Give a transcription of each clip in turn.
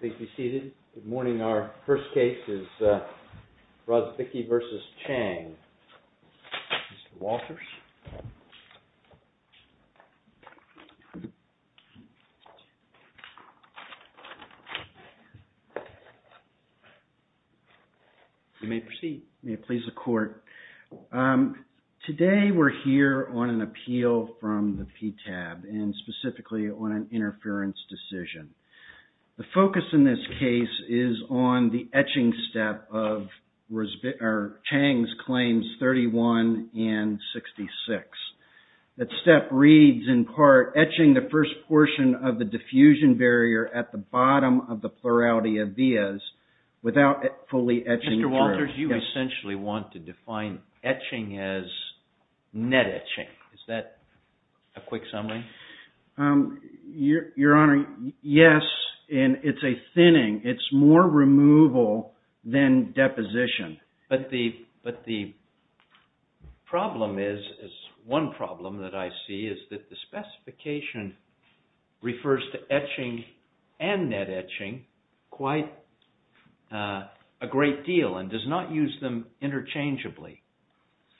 Please be seated. Good morning. Our first case is Robbicki v. Chiang. Mr. Walters. You may proceed. May it please the court. Today we're here on an appeal from the PTAB and specifically on an interference decision. The focus in this case is on the etching step of Chiang's claims 31 and 66. That step reads in part, etching the first portion of the diffusion barrier at the bottom of the plurality of vias without fully etching through. Mr. Walters, you essentially want to define etching as net etching. Is that a quick summary? Your Honor, yes, and it's a thinning. It's more removal than deposition. But the problem is, one problem that I see is that the specification refers to etching and net etching quite a great deal and does not use them interchangeably.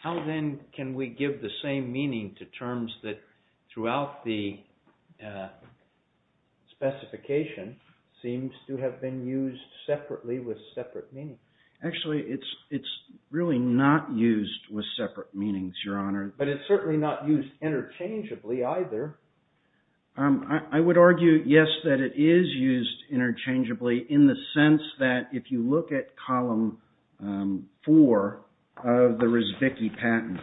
How then can we give the same meaning to terms that throughout the specification seems to have been used separately with separate meanings? Actually, it's really not used with separate meanings, Your Honor. But it's certainly not used interchangeably in the sense that if you look at column 4 of the Rizvicki patent,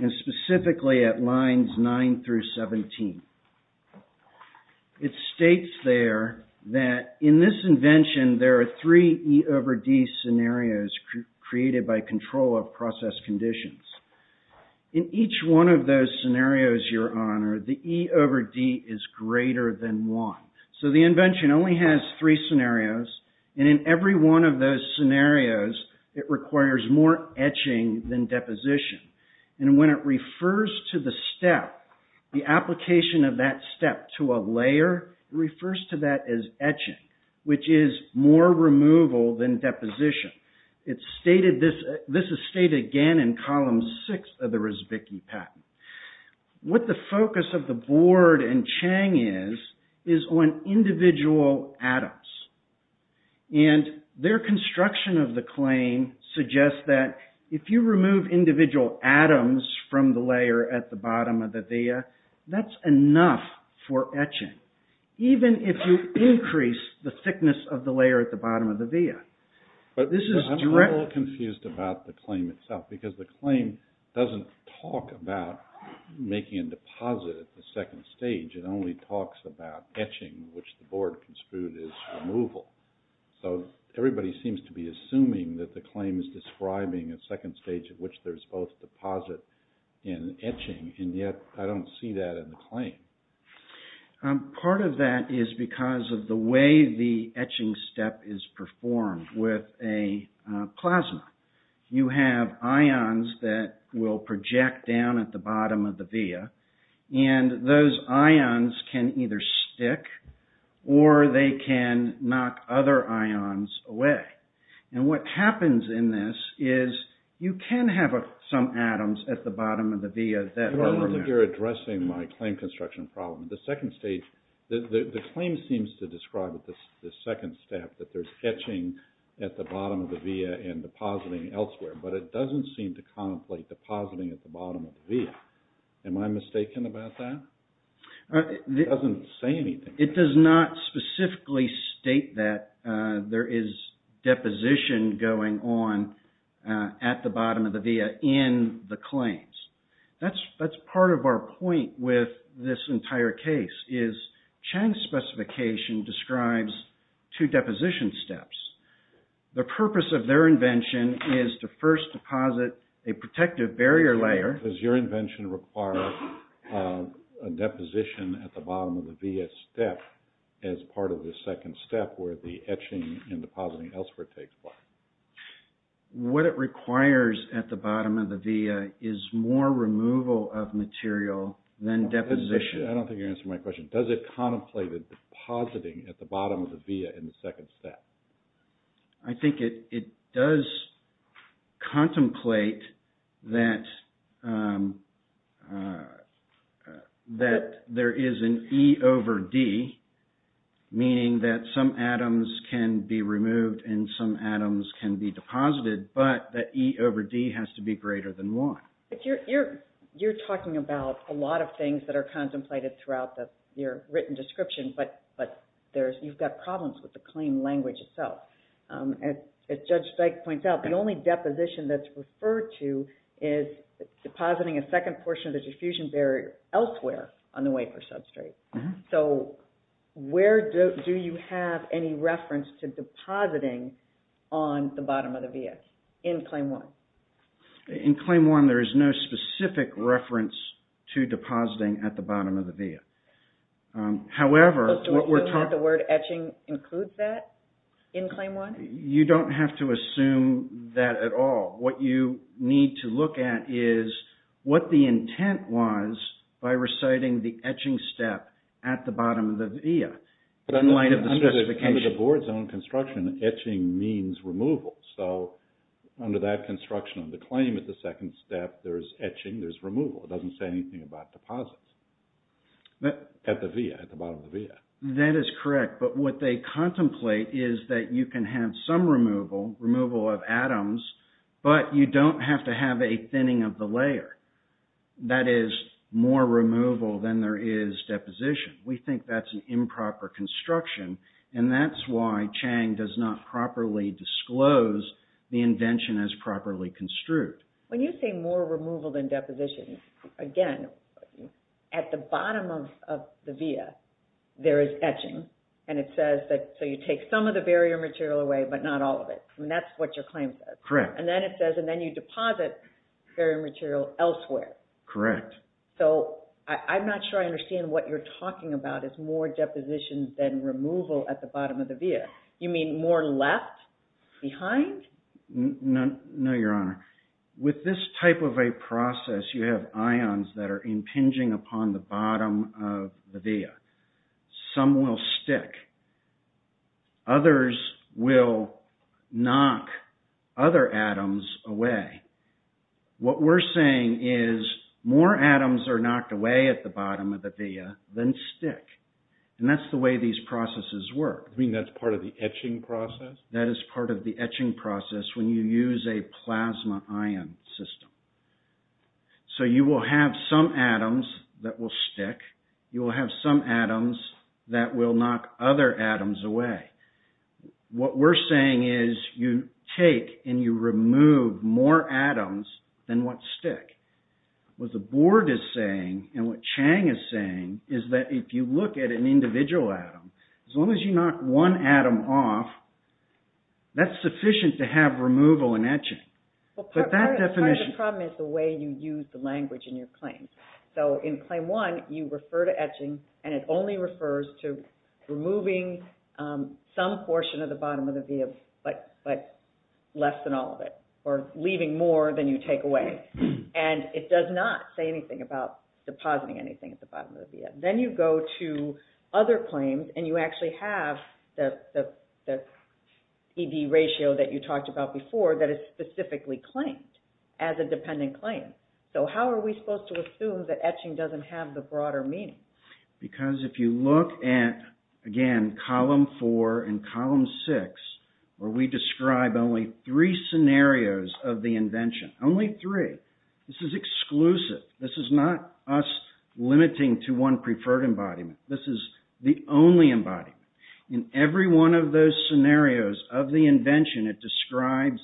and specifically at lines 9 through 17, it states there that in this invention there are three E over D scenarios created by control of process conditions. In each one of those scenarios, Your Honor, the E over D is greater than one. So the invention only has three scenarios, and in every one of those scenarios it requires more etching than deposition. And when it refers to the step, the application of that step to a layer, it refers to that as etching, which is more in column 6 of the Rizvicki patent. What the focus of the board and Chang is, is on individual atoms. And their construction of the claim suggests that if you remove individual atoms from the layer at the bottom of the via, that's enough for etching, even if you increase the thickness of the layer at the bottom of the claim doesn't talk about making a deposit at the second stage. It only talks about etching, which the board construed as removal. So everybody seems to be assuming that the claim is describing a second stage at which there's both deposit and etching, and yet I don't see that in the claim. Part of that is because of the way the etching step is that will project down at the bottom of the via, and those ions can either stick or they can knock other ions away. And what happens in this is you can have some atoms at the bottom of the via that are removed. The claim seems to describe the second step, that there's depositing at the bottom of the via. Am I mistaken about that? It doesn't say anything. It does not specifically state that there is deposition going on at the bottom of the via in the claims. That's part of our point with this entire case, is Chang's specification describes two deposition steps. The purpose of their invention is to first deposit a protective barrier layer. Does your invention require a deposition at the bottom of the via step as part of the second step where the etching and depositing elsewhere takes place? What it requires at the bottom of the via is more removal of material than deposition. I don't think you're answering my question. Does it contemplate depositing at the bottom of the via in the second step? I think it does contemplate that there is an E over D, meaning that some atoms can be removed and some atoms can be deposited, but that E over D has to be contemplated throughout your written description, but you've got problems with the claim language itself. As Judge Dyke points out, the only deposition that's referred to is depositing a second portion of the diffusion barrier elsewhere on the wafer substrate. Where do you have any reference to depositing on the bottom of the via in Claim 1? In Claim 1, there is no specific reference to depositing at the bottom of the via. However, you don't have to assume that at all. What you need to look at is what the intent was by reciting the etching step at the bottom of the via. Under the board's own construction, etching means removal, so under that construction of the claim at the second step, there's etching, there's removal. It doesn't say anything about deposits at the bottom of the via. That is correct, but what they contemplate is that you can have some removal, removal of atoms, but you don't have to have a thinning of the layer. That is more removal than there is deposition. We think that's an improper construction, and that's why Chang does not properly disclose the invention as properly construed. When you say more removal than deposition, again, at the bottom of the via, there is etching, and it says that you take some of the barrier material away, but not all of it. That's what your claim says, and then it says you deposit barrier material elsewhere. Correct. I'm not sure I understand what you're talking about as more deposition than removal at the bottom of the via. You mean more left behind? No, Your Honor. With this type of a process, you have ions that are impinging upon the bottom of the via. Some will stick. Others will knock other atoms away. What we're saying is more atoms are knocked away at the bottom of the via than stick, and that's the way these processes work. You mean that's part of the etching process? That is part of the etching process when you use a plasma ion system. So you will have some atoms that will stick. You will have some atoms that will knock other atoms away. What we're saying is you take and you remove more atoms than what stick. What the Board is saying, and what Chang is saying, is that if you look at an individual atom, as long as you knock one atom off, that's the way you use the language in your claims. So in Claim 1, you refer to etching, and it only refers to removing some portion of the bottom of the via, but less than all of it, or leaving more than you take away. It does not say anything about depositing anything at the bottom of the via. Then you go to other claims, and you actually have the ratio that you talked about before that is specifically claimed as a dependent claim. So how are we supposed to assume that etching doesn't have the broader meaning? Because if you look at, again, Column 4 and Column 6, where we describe only three scenarios of the invention, only three. This is exclusive. This is not us limiting to one preferred embodiment. This is the only embodiment. In every one of those scenarios of the invention, it describes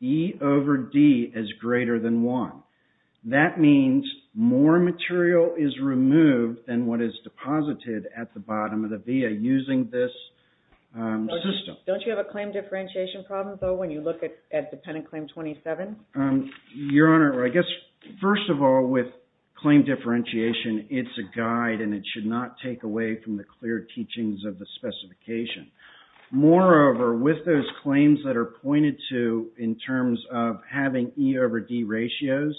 E over D as greater than 1. That means more material is removed than what is deposited at the bottom of the via using this system. Don't you have a claim differentiation problem, though, when you look at Dependent Claim 27? Your Honor, I guess, first of all, with claim differentiation, it's a guide, and it should not take away from the clear teachings of the specification. Moreover, with those claims that are pointed to in terms of having E over D ratios,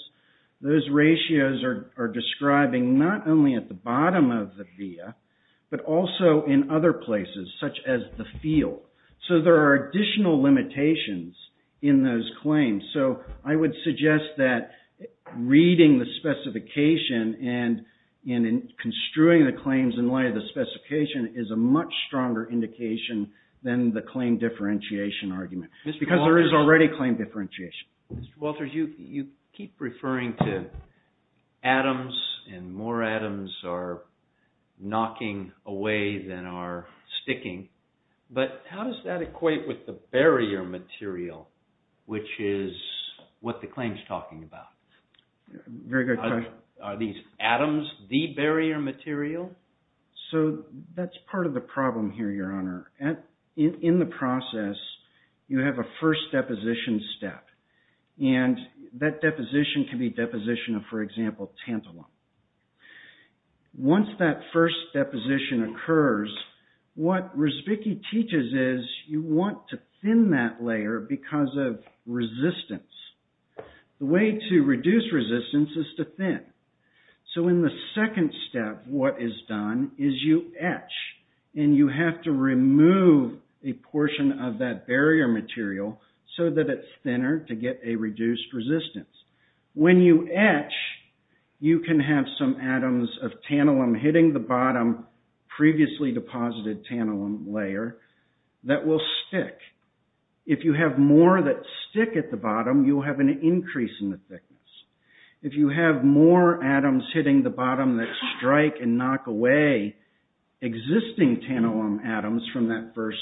those ratios are describing not only at the bottom of the via, but also in other places, such as the field. So there are additional limitations in those claims. I would suggest that reading the specification and construing the claims in light of the specification is a much stronger indication than the claim differentiation argument, because there is already claim differentiation. Mr. Walters, you keep referring to atoms, and more atoms are knocking away than are sticking, but how does that equate with the barrier material, which is what the claim is talking about? Very good question. Are these atoms the barrier material? So that's part of the problem here, Your Honor. In the process, you have a first deposition step, and that deposition can be deposition of, for example, tantalum. Once that first deposition occurs, what Rusvicki teaches is you want to thin that layer because of resistance. The way to reduce resistance is to thin. So in the second step, what is done is you etch, and you have to remove a resistance. When you etch, you can have some atoms of tantalum hitting the bottom previously deposited tantalum layer that will stick. If you have more that stick at the bottom, you will have an increase in the thickness. If you have more atoms hitting the bottom that strike and knock away existing tantalum atoms from that first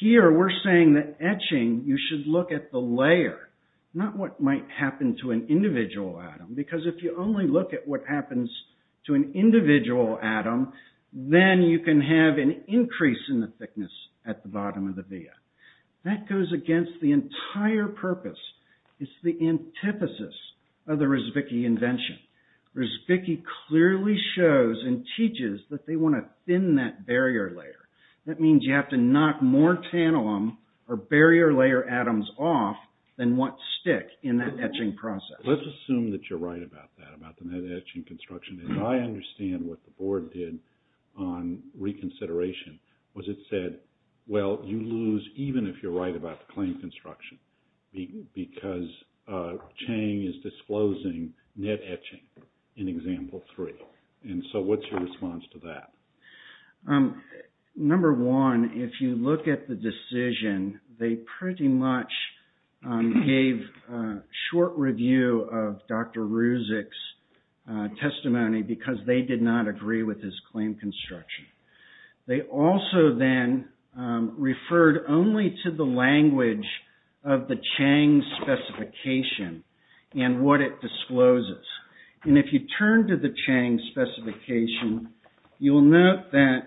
Here, we're saying that etching, you should look at the layer, not what might happen to an individual atom, because if you only look at what happens to an individual atom, then you can have an increase in the thickness at the bottom of the via. That goes against the entire purpose. It's the antithesis of the Rusvicki invention. Rusvicki clearly shows and tantalum or barrier layer atoms off than what stick in that etching process. Let's assume that you're right about that, about the net etching construction. And I understand what the board did on reconsideration, was it said, well, you lose even if you're right about the claim construction, because Chang is disclosing net etching in example three. And so what's your decision? They pretty much gave a short review of Dr. Rusvicki's testimony, because they did not agree with his claim construction. They also then referred only to the language of the Chang specification and what it discloses. And if you turn to the Chang specification, you'll note that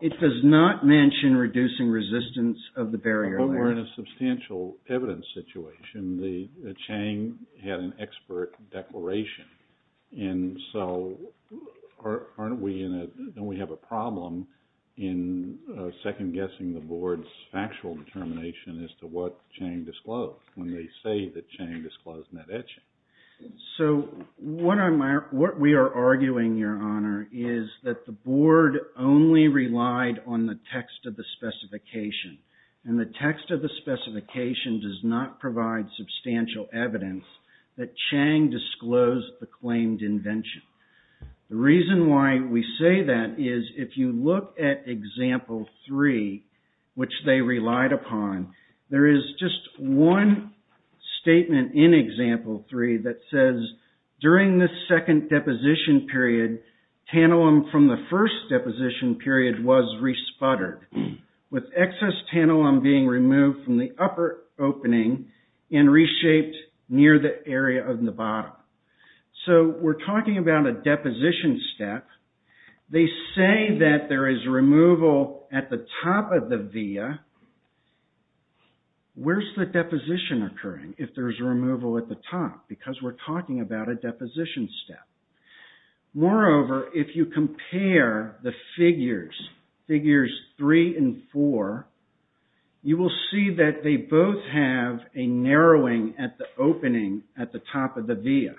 it does not mention reducing resistance of the barrier layer. But we're in a substantial evidence situation. The Chang had an expert declaration. And so don't we have a problem in second-guessing the board's factual determination as to what Chang disclosed when they say that Chang disclosed net etching? So what we are arguing, Your Honor, is that the board only relied on the text of the specification. And the text of the specification does not provide substantial evidence that Chang disclosed the claimed invention. The reason why we say that is if you look at example three, which they relied upon, there is just one statement in example three that says, during the second deposition period, tantalum from the first deposition period was re-sputtered, with excess tantalum being removed from the upper opening and reshaped near the area of Nevada. So we're talking about a deposition step. They say that there is removal at the top of the via. Where's the deposition occurring if there's removal at the top? Because we're talking about a deposition step. Moreover, if you compare the figures, figures three and four, you will see that they both have a narrowing at the opening at the top of the via.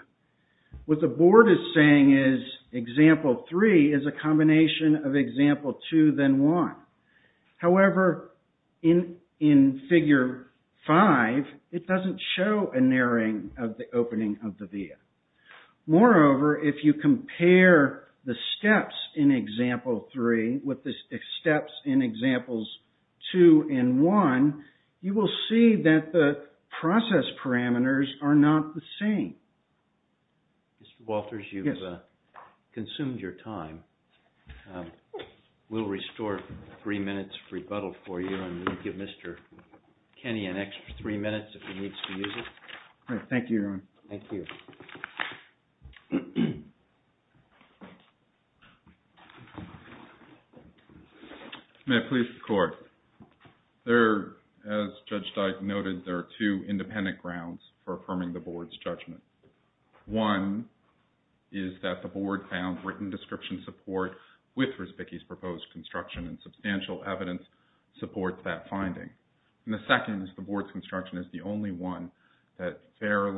What the board is saying is, example three is a combination of example two, then one. However, in figure five, it doesn't show a narrowing of the opening of the via. Moreover, if you compare the steps in example three with the steps in examples two and one, you will see that the process parameters are not the same. Mr. Walters, you've consumed your time. We'll restore three minutes rebuttal for you, and we'll give Mr. Kenney an extra three minutes if he needs to use it. Thank you. Thank you, everyone. May I please record? As Judge Dyke noted, there are two independent grounds for affirming the board's judgment. One is that the board found written description support with Risbicky's proposed construction, and substantial evidence supports that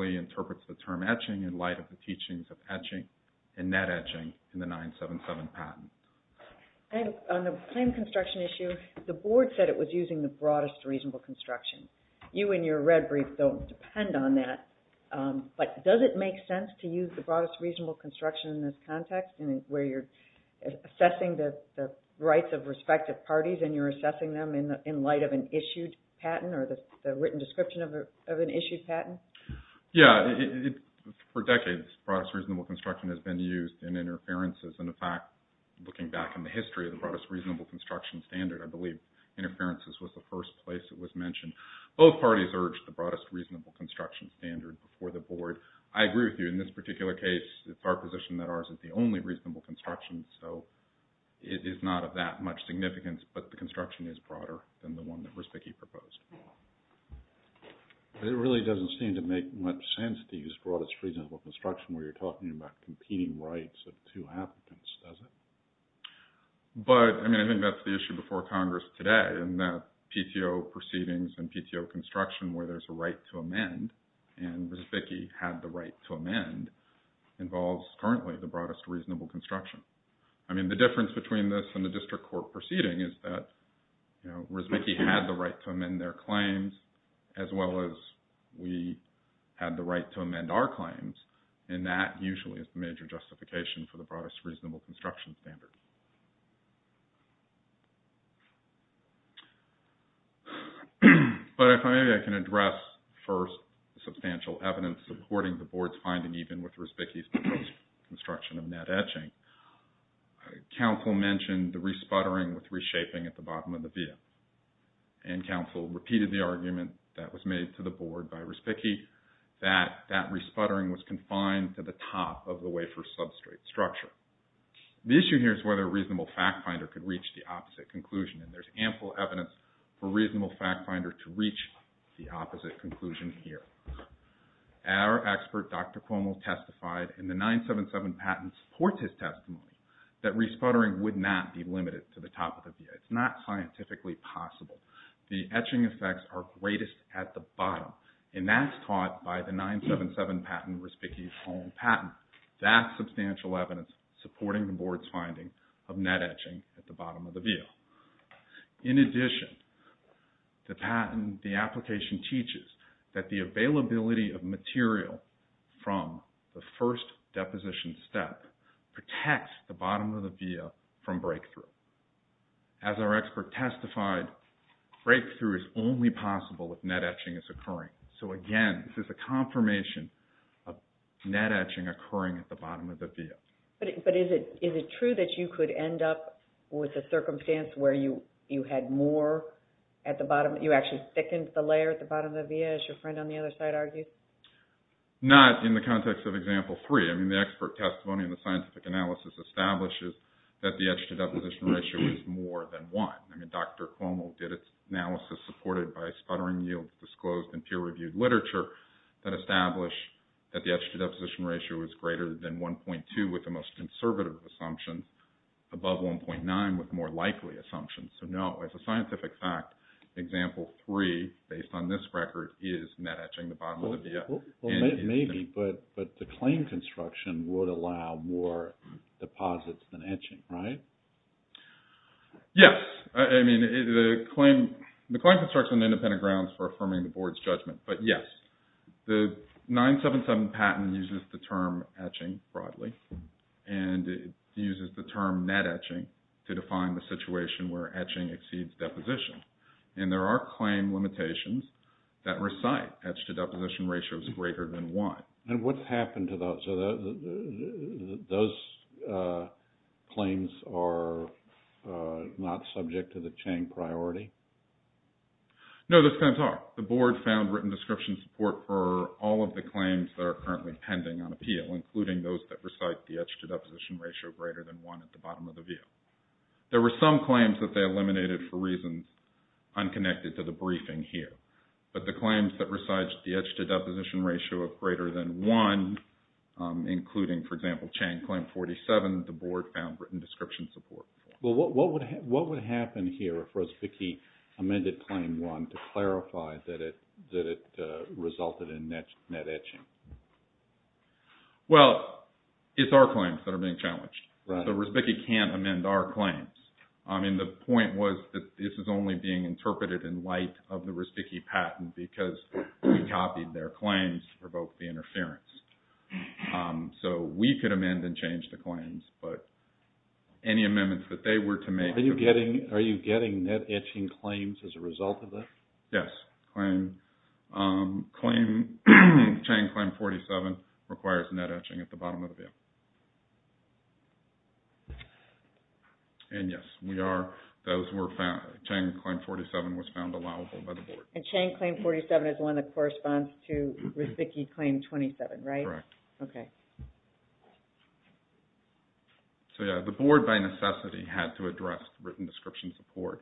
and interprets the term etching in light of the teachings of etching and net etching in the 977 patent. On the claim construction issue, the board said it was using the broadest reasonable construction. You in your red brief don't depend on that, but does it make sense to use the broadest reasonable construction in this context where you're assessing the rights of respective parties and you're assessing them in light of an issued patent? Yeah. For decades, broadest reasonable construction has been used in interferences, and in fact, looking back in the history of the broadest reasonable construction standard, I believe interferences was the first place it was mentioned. Both parties urged the broadest reasonable construction standard before the board. I agree with you. In this particular case, it's our position that ours is the only reasonable construction, so it is not of that much significance, but the construction is broader than the one that Risbicky proposed. But it really doesn't seem to make much sense to use broadest reasonable construction where you're talking about competing rights of two applicants, does it? But, I mean, I think that's the issue before Congress today in that PTO proceedings and PTO construction where there's a right to amend, and Risbicky had the right to amend, involves currently the broadest reasonable construction. I mean, the difference between this and the district court proceeding is that Risbicky had the right to amend their claims as well as we had the right to amend our claims, and that usually is the major justification for the broadest reasonable construction standard. But if maybe I can address first substantial evidence supporting the board's finding even with Risbicky's proposed construction of net etching, counsel mentioned the re-sputtering with reshaping at the bottom of the via. And counsel repeated the argument that was made to the board by Risbicky that that re-sputtering was confined to the top of the wafer substrate structure. The issue here is whether a reasonable fact finder could reach the opposite conclusion, and there's ample evidence for a reasonable fact finder to reach the opposite conclusion here. Our expert, Dr. Cuomo, testified in the 977 patent support his testimony that re-sputtering would not be limited to the top of the via. It's not scientifically possible. The etching effects are greatest at the bottom, and that's taught by the 977 patent, Risbicky's own patent. That's substantial evidence supporting the board's finding of net etching at the bottom of the via. In addition, the application teaches that the availability of material from the first deposition step protects the bottom of the via from breakthrough. As our expert testified, breakthrough is only possible if net etching is occurring. So again, this is a confirmation of net etching occurring at the bottom of the via. But is it true that you could end up with a circumstance where you had more at the bottom? You actually thickened the layer at the bottom of the via, as your friend on the other side argued? Not in the context of example three. I mean, the expert testimony and the scientific analysis establishes that the etch-to-deposition ratio is more than one. I mean, Dr. Cuomo did its peer-reviewed literature that established that the etch-to-deposition ratio was greater than 1.2 with the most conservative assumption, above 1.9 with more likely assumptions. So no, as a scientific fact, example three, based on this record, is net etching at the bottom of the via. Maybe, but the claim construction would allow more deposits than etching, right? Yes. I mean, the claim construction independent grounds for affirming the board's judgment. But yes, the 977 patent uses the term etching broadly. And it uses the term net etching to define the situation where etching exceeds deposition. And there are claim limitations that recite etch-to-deposition ratios greater than one. And what's happened to those claims? Are those claims not subject to the chain priority? No, those claims are. The board found written description support for all of the claims that are currently pending on appeal, including those that recite the etch-to-deposition ratio greater than one at the bottom of the via. There were some claims that they eliminated for reasons unconnected to the briefing here. But the claims that recite the etch-to-deposition ratio of greater than one, including, for example, Chang Claim 47, the board found written description support. Well, what would happen here if Rosbicki amended Claim 1 to clarify that it resulted in net etching? Well, it's our claims that are being challenged. So Rosbicki can't amend our claims. And the point was that this is only being interpreted in light of the Rosbicki patent because we copied their claims to provoke the interference. So we could amend and change the claims, but any amendments that they were to make... Are you getting net etching claims as a result of this? Net etching at the bottom of the via. And yes, Chang Claim 47 was found allowable by the board. And Chang Claim 47 is one that corresponds to Rosbicki Claim 27, right? Correct. So yeah, the board, by necessity, had to address written description support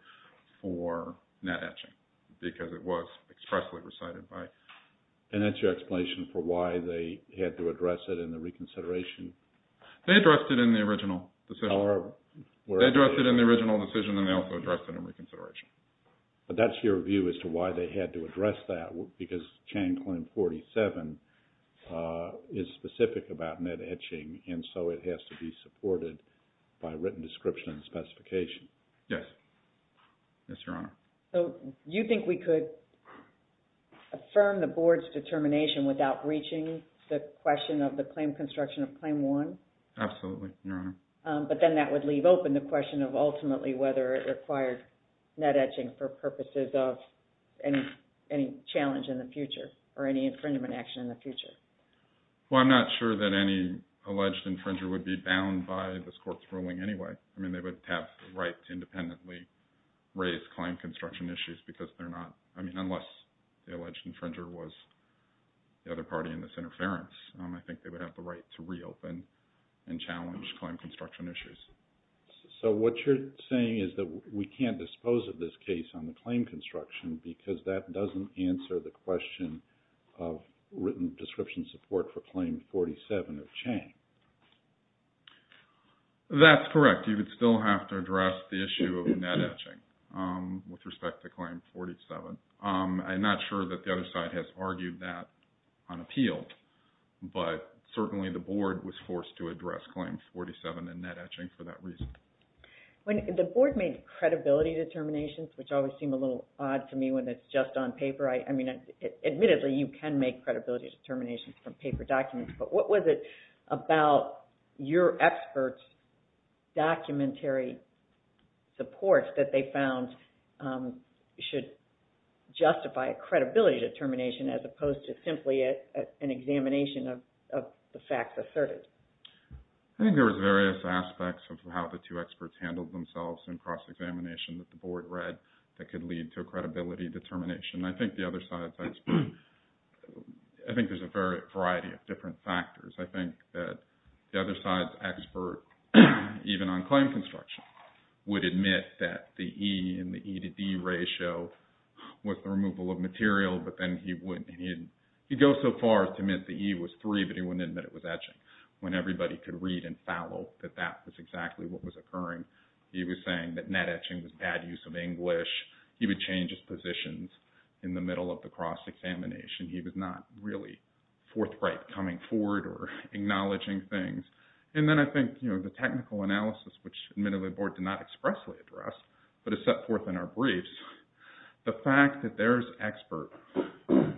for net etching because it was expressly recited by... And that's your explanation for why they had to address it in the reconsideration? They addressed it in the original decision. They addressed it in the original decision and they also addressed it in reconsideration. But that's your view as to why they had to address that because Chang Claim 47 is specific about net etching, and so it has to be supported by written description and specification. Yes. Yes, Your Honor. So you think we could affirm the board's determination without breaching the question of the claim construction of Claim 1? Absolutely, Your Honor. But then that would leave open the question of ultimately whether it required net etching for purposes of any challenge in the future or any infringement action in the future. Well, I'm not sure that any alleged infringer would be bound by this court's ruling anyway. I mean, they would have the right to independently raise claim construction issues because they're not... I mean, unless the alleged infringer was the other party in this interference, I think they would have the right to reopen and challenge claim construction issues. So what you're saying is that we can't dispose of this case on the claim construction because that doesn't answer the question of written description support for Claim 47 of Chang. That's correct. You would still have to address the issue of net etching with respect to Claim 47. I'm not sure that the other side has argued that on appeal, but certainly the board was forced to address Claim 47 and net etching for that reason. The board made credibility determinations, which always seem a little odd to me when it's just on paper. I mean, admittedly, you can make credibility determinations from paper documents, but what was it about your experts' documentary support that they found should justify a credibility determination as opposed to simply an examination of the facts asserted? I think there was various aspects of how the two experts handled themselves in cross-examination that the board read that could lead to a credibility determination. I think there's a variety of different factors. I think that the other side's expert, even on claim construction, would admit that the E and the E to D ratio was the removal of material, but then he'd go so far as to admit the E was three, but he wouldn't admit it was etching, when everybody could read and follow that that was exactly what was occurring. He was saying that net etching was bad use of English. He would change his positions in the middle of the cross-examination. He was not really forthright coming forward or acknowledging things. And then I think the technical analysis, which admittedly the board did not expressly address, but is set forth in our briefs, the fact that their expert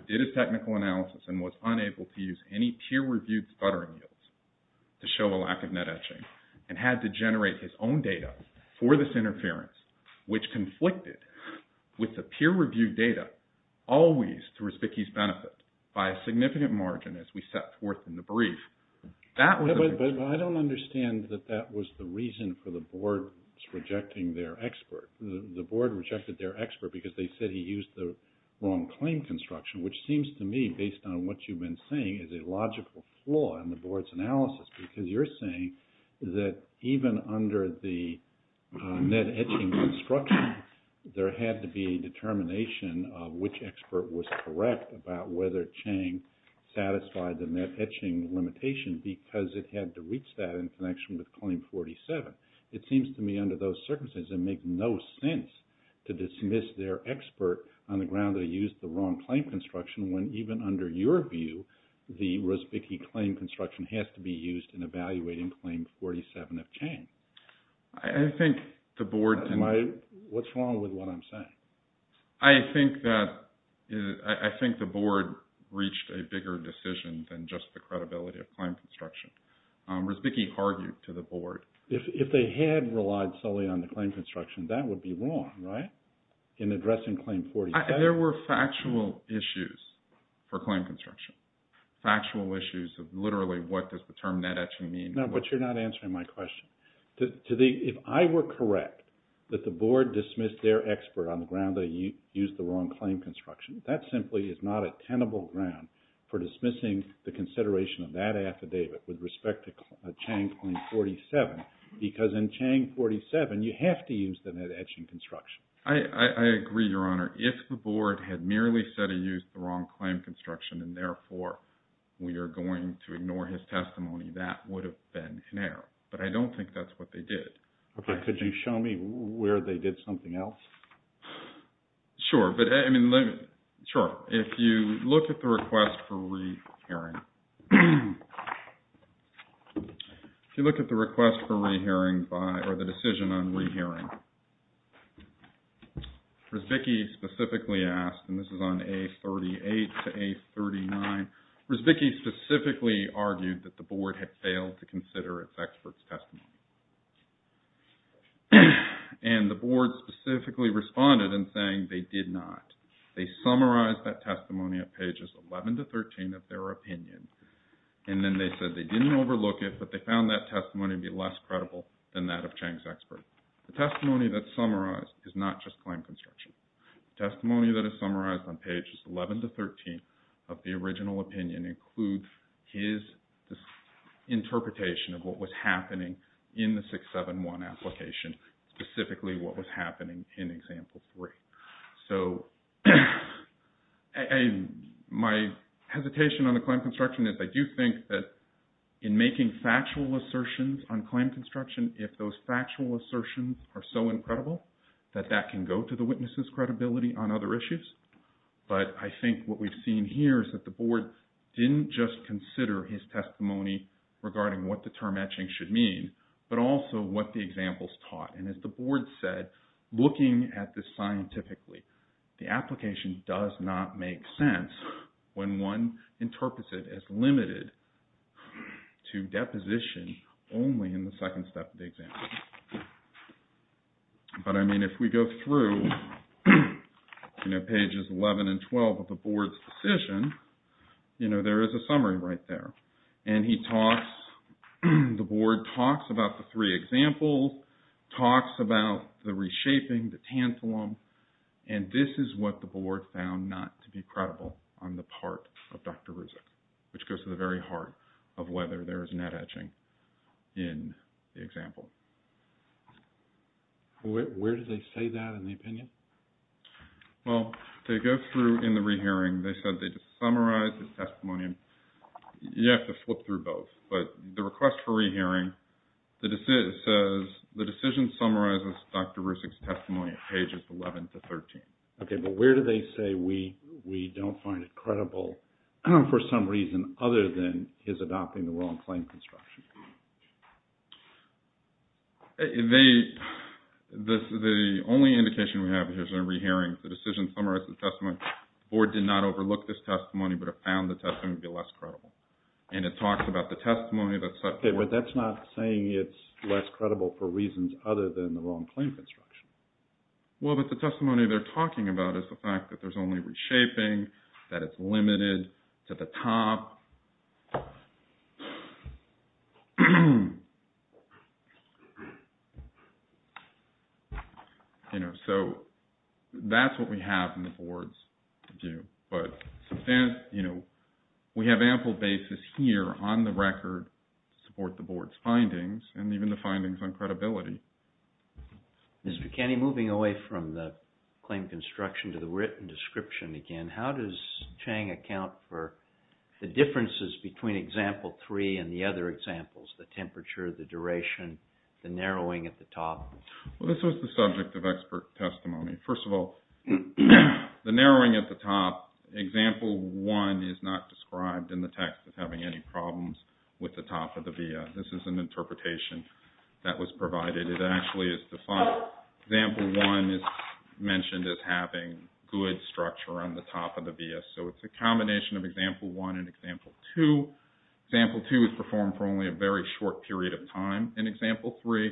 did a technical analysis and was unable to use any peer-reviewed stuttering yields to show a lack of net etching and had to generate his own data for this interference, which conflicted with the peer-reviewed data always to Rizvicki's benefit by a significant margin as we set forth in the brief. But I don't understand that that was the reason for the board rejecting their expert. The board rejected their expert because they said he used the wrong claim construction, which seems to me, based on what you've been saying, is a logical flaw in the board's analysis because you're saying that even under the net etching construction, there had to be a determination of which expert was correct about whether Chang satisfied the net etching limitation because it had to reach that in connection with Claim 47. It seems to me under those circumstances it makes no sense to dismiss their expert on the ground they used the wrong claim construction when even under your view, the Rizvicki claim construction has to be used in evaluating Claim 47 of Chang. What's wrong with what I'm saying? I think the board reached a bigger decision than just the credibility of claim construction. Rizvicki argued to the board. If they had relied solely on the claim construction, that would be wrong, right, in addressing Claim 47? There were factual issues for claim construction, factual issues of literally what does the term net etching mean? No, but you're not answering my question. If I were correct that the board dismissed their expert on the ground they used the wrong claim construction, that simply is not a tenable ground for dismissing the consideration of that affidavit with respect to Chang Claim 47 because in Chang 47 you have to use the net etching construction. I agree, Your Honor. If the board had merely said it used the wrong claim construction and therefore we are going to ignore his testimony, that would have been an error, but I don't think that's what they did. Could you show me where they did something else? Sure. Sure. If you look at the request for re-hearing, if you look at the request for re-hearing or the decision on re-hearing, Rizvicki specifically asked, and this is on A38 to A39, Rizvicki specifically argued that the board had failed to consider its expert's testimony. And the board specifically responded in saying they did not. They summarized that testimony at pages 11 to 13 of their opinion, and then they said they didn't overlook it, but they found that testimony to be less credible than that of Chang's expert. The testimony that's summarized is not just claim construction. The testimony that is summarized on pages 11 to 13 of the original opinion includes his interpretation of what was happening in the 671 application, specifically what was happening in Example 3. So my hesitation on the claim construction is I do think that in making factual assertions on claim construction, if those factual assertions are so incredible, that that can go to the witness's credibility on other issues. But I think what we've seen here is that the board didn't just consider his testimony regarding what the term etching should mean, but also what the examples taught. And as the board said, looking at this scientifically, the application does not make sense when one interprets it as limited to deposition only in the second step of the example. But I mean, if we go through pages 11 and 12 of the board's decision, there is a summary right there. And the board talks about the three examples, talks about the reshaping, the tantalum, and this is what the board found not to be credible on the part of Dr. Ruzic, which goes to the very heart of whether there is net etching in the example. Where do they say that in the opinion? Well, they go through in the rehearing. They said they just summarized his testimony. You have to flip through both. But the request for rehearing says the decision summarizes Dr. Ruzic's testimony at pages 11 to 13. Okay, but where do they say we don't find it credible for some reason other than his adopting the wrong claim construction? The only indication we have here is in the rehearing. The decision summarizes the testimony. The board did not overlook this testimony, but it found the testimony to be less credible. And it talks about the testimony that's set forth. Okay, but that's not saying it's less credible for reasons other than the wrong claim construction. Well, but the testimony they're talking about is the fact that there's only reshaping, that it's limited to the top. You know, so that's what we have in the board's view. But, you know, we have ample basis here on the record to support the board's findings and even the findings on credibility. Mr. Kenney, moving away from the claim construction to the written description again, how does Chang account for the differences between Example 3 and the other examples, the temperature, the duration, the narrowing at the top? Well, this was the subject of expert testimony. First of all, the narrowing at the top, Example 1 is not described in the text as having any problems with the top of the via. This is an interpretation that was provided. It actually is defined. Example 1 is mentioned as having good structure on the top of the via. So it's a combination of Example 1 and Example 2. Example 2 is performed for only a very short period of time. In Example 3,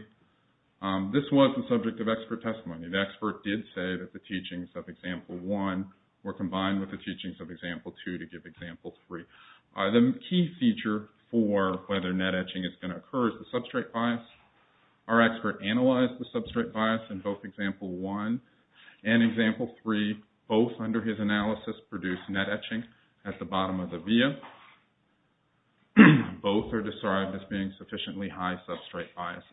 this was the subject of expert testimony. The expert did say that the teachings of Example 1 were combined with the teachings of Example 2 to give Example 3. The key feature for whether net etching is going to occur is the substrate bias. Our expert analyzed the substrate bias in both Example 1 and Example 3. Both, under his analysis, produced net etching at the bottom of the via. Both are described as being sufficiently high substrate biases.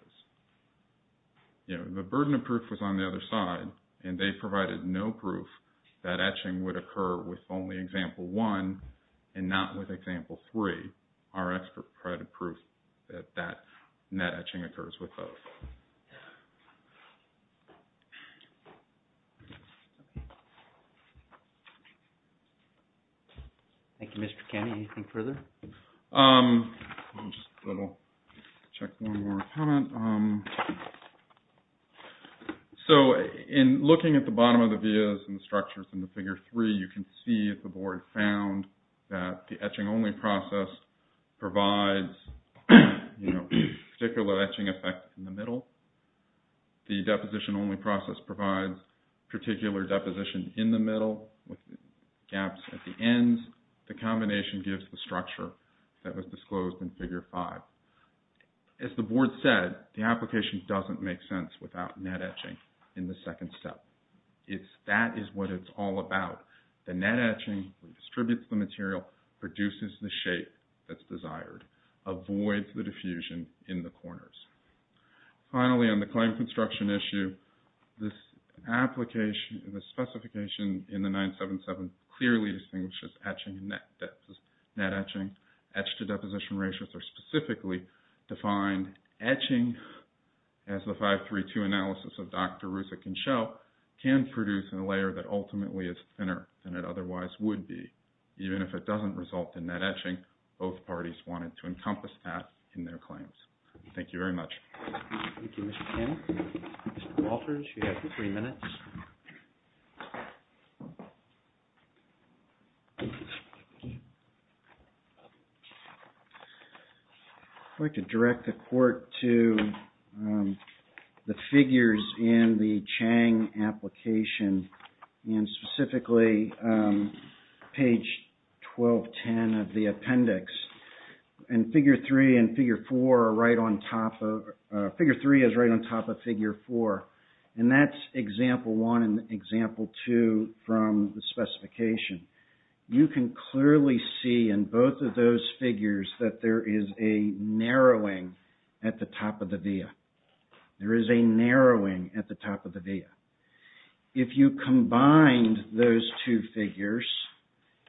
The burden of proof was on the other side, and they provided no proof that etching would occur with only Example 1 and not with Example 3. Our expert provided proof that net etching occurs with both. Thank you, Mr. Kennedy. Anything further? I'll just double-check one more comment. So in looking at the bottom of the vias and the structures in the Figure 3, you can see that the board found that the etching-only process provides particular etching effects in the middle. The deposition-only process provides particular deposition in the middle with gaps at the ends. The combination gives the structure that was disclosed in Figure 5. As the board said, the application doesn't make sense without net etching in the second step. That is what it's all about. The net etching distributes the material, produces the shape that's desired, avoids the diffusion in the corners. Finally, on the claim construction issue, the specification in the 977 clearly distinguishes etching and net etching. Etch-to-deposition ratios are specifically defined. Etching, as the 5.3.2 analysis of Dr. Rusak and Schell, can produce a layer that ultimately is thinner than it otherwise would be. Even if it doesn't result in net etching, both parties wanted to encompass that in their claims. Thank you very much. Thank you, Mr. Cannon. Mr. Walters, you have three minutes. I'd like to direct the court to the figures in the Chang application, and specifically page 1210 of the appendix. Figure 3 is right on top of Figure 4. That's Example 1 and Example 2 from the specification. You can clearly see in both of those figures that there is a narrowing at the top of the via. There is a narrowing at the top of the via. If you combined those two figures,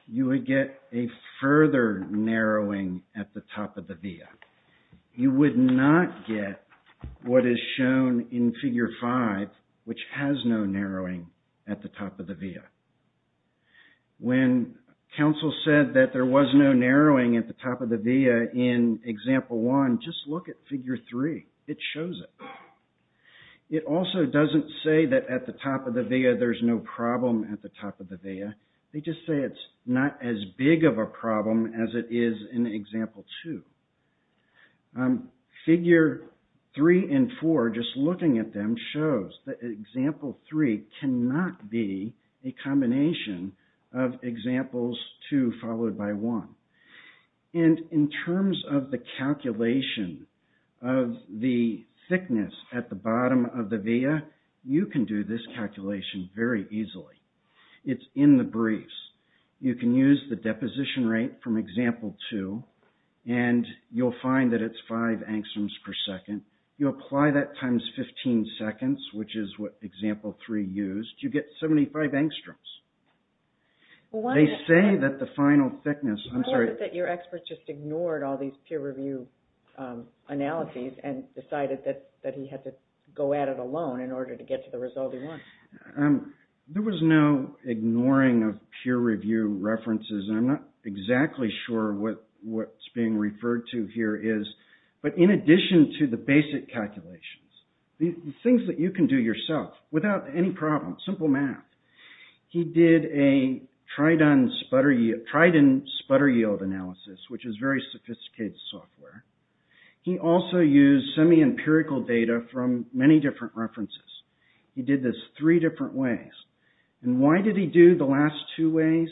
you would get a further narrowing at the top of the via. You would not get what is shown in Figure 5, which has no narrowing at the top of the via. When counsel said that there was no narrowing at the top of the via in Example 1, just look at Figure 3. It shows it. It also doesn't say that at the top of the via there's no problem at the top of the via. They just say it's not as big of a problem as it is in Example 2. Figure 3 and 4, just looking at them, shows that Example 3 cannot be a combination of Examples 2 followed by 1. In terms of the calculation of the thickness at the bottom of the via, you can do this calculation very easily. It's in the briefs. You can use the deposition rate from Example 2 and you'll find that it's 5 angstroms per second. You apply that times 15 seconds, which is what Example 3 used. You get 75 angstroms. They say that the final thickness... Your expert just ignored all these peer review analyses and decided that he had to go at it alone in order to get to the result he wanted. There was no ignoring of peer review references. I'm not exactly sure what's being referred to here is, but in addition to the basic calculations, the things that you can do yourself without any problem, simple math. He did a Trident sputter yield analysis, which is very sophisticated software. He also used semi-empirical data from many different references. He did this three different ways. And why did he do the last two ways?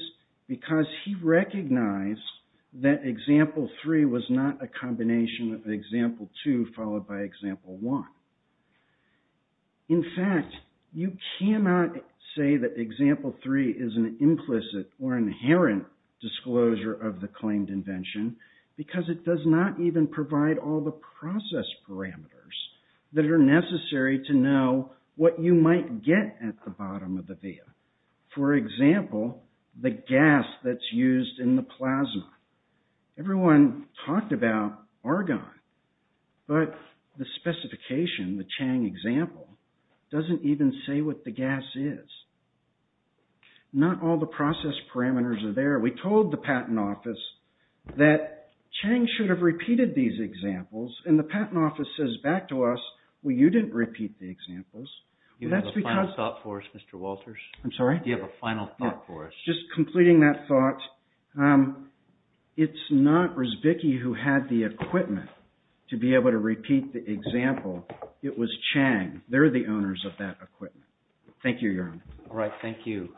Because he recognized that Example 3 was not a combination of Example 2 followed by Example 1. In fact, you cannot say that Example 3 is an implicit or inherent disclosure of the claimed invention because it does not even provide all the process parameters that are necessary to know what you might get at the bottom of the via. For example, the gas that's used in the plasma. Everyone talked about argon, but the specification, the Chang example, doesn't even say what the gas is. Not all the process parameters are there. We told the Patent Office that Chang should have repeated these examples, and the Patent Office says back to us, well, you didn't repeat the examples. Do you have a final thought for us, Mr. Walters? I'm sorry? Do you have a final thought for us? Just completing that thought, it's not Rusbicki who had the equipment to be able to repeat the example. It was Chang. They're the owners of that equipment. Thank you, Your Honor. All right. Thank you.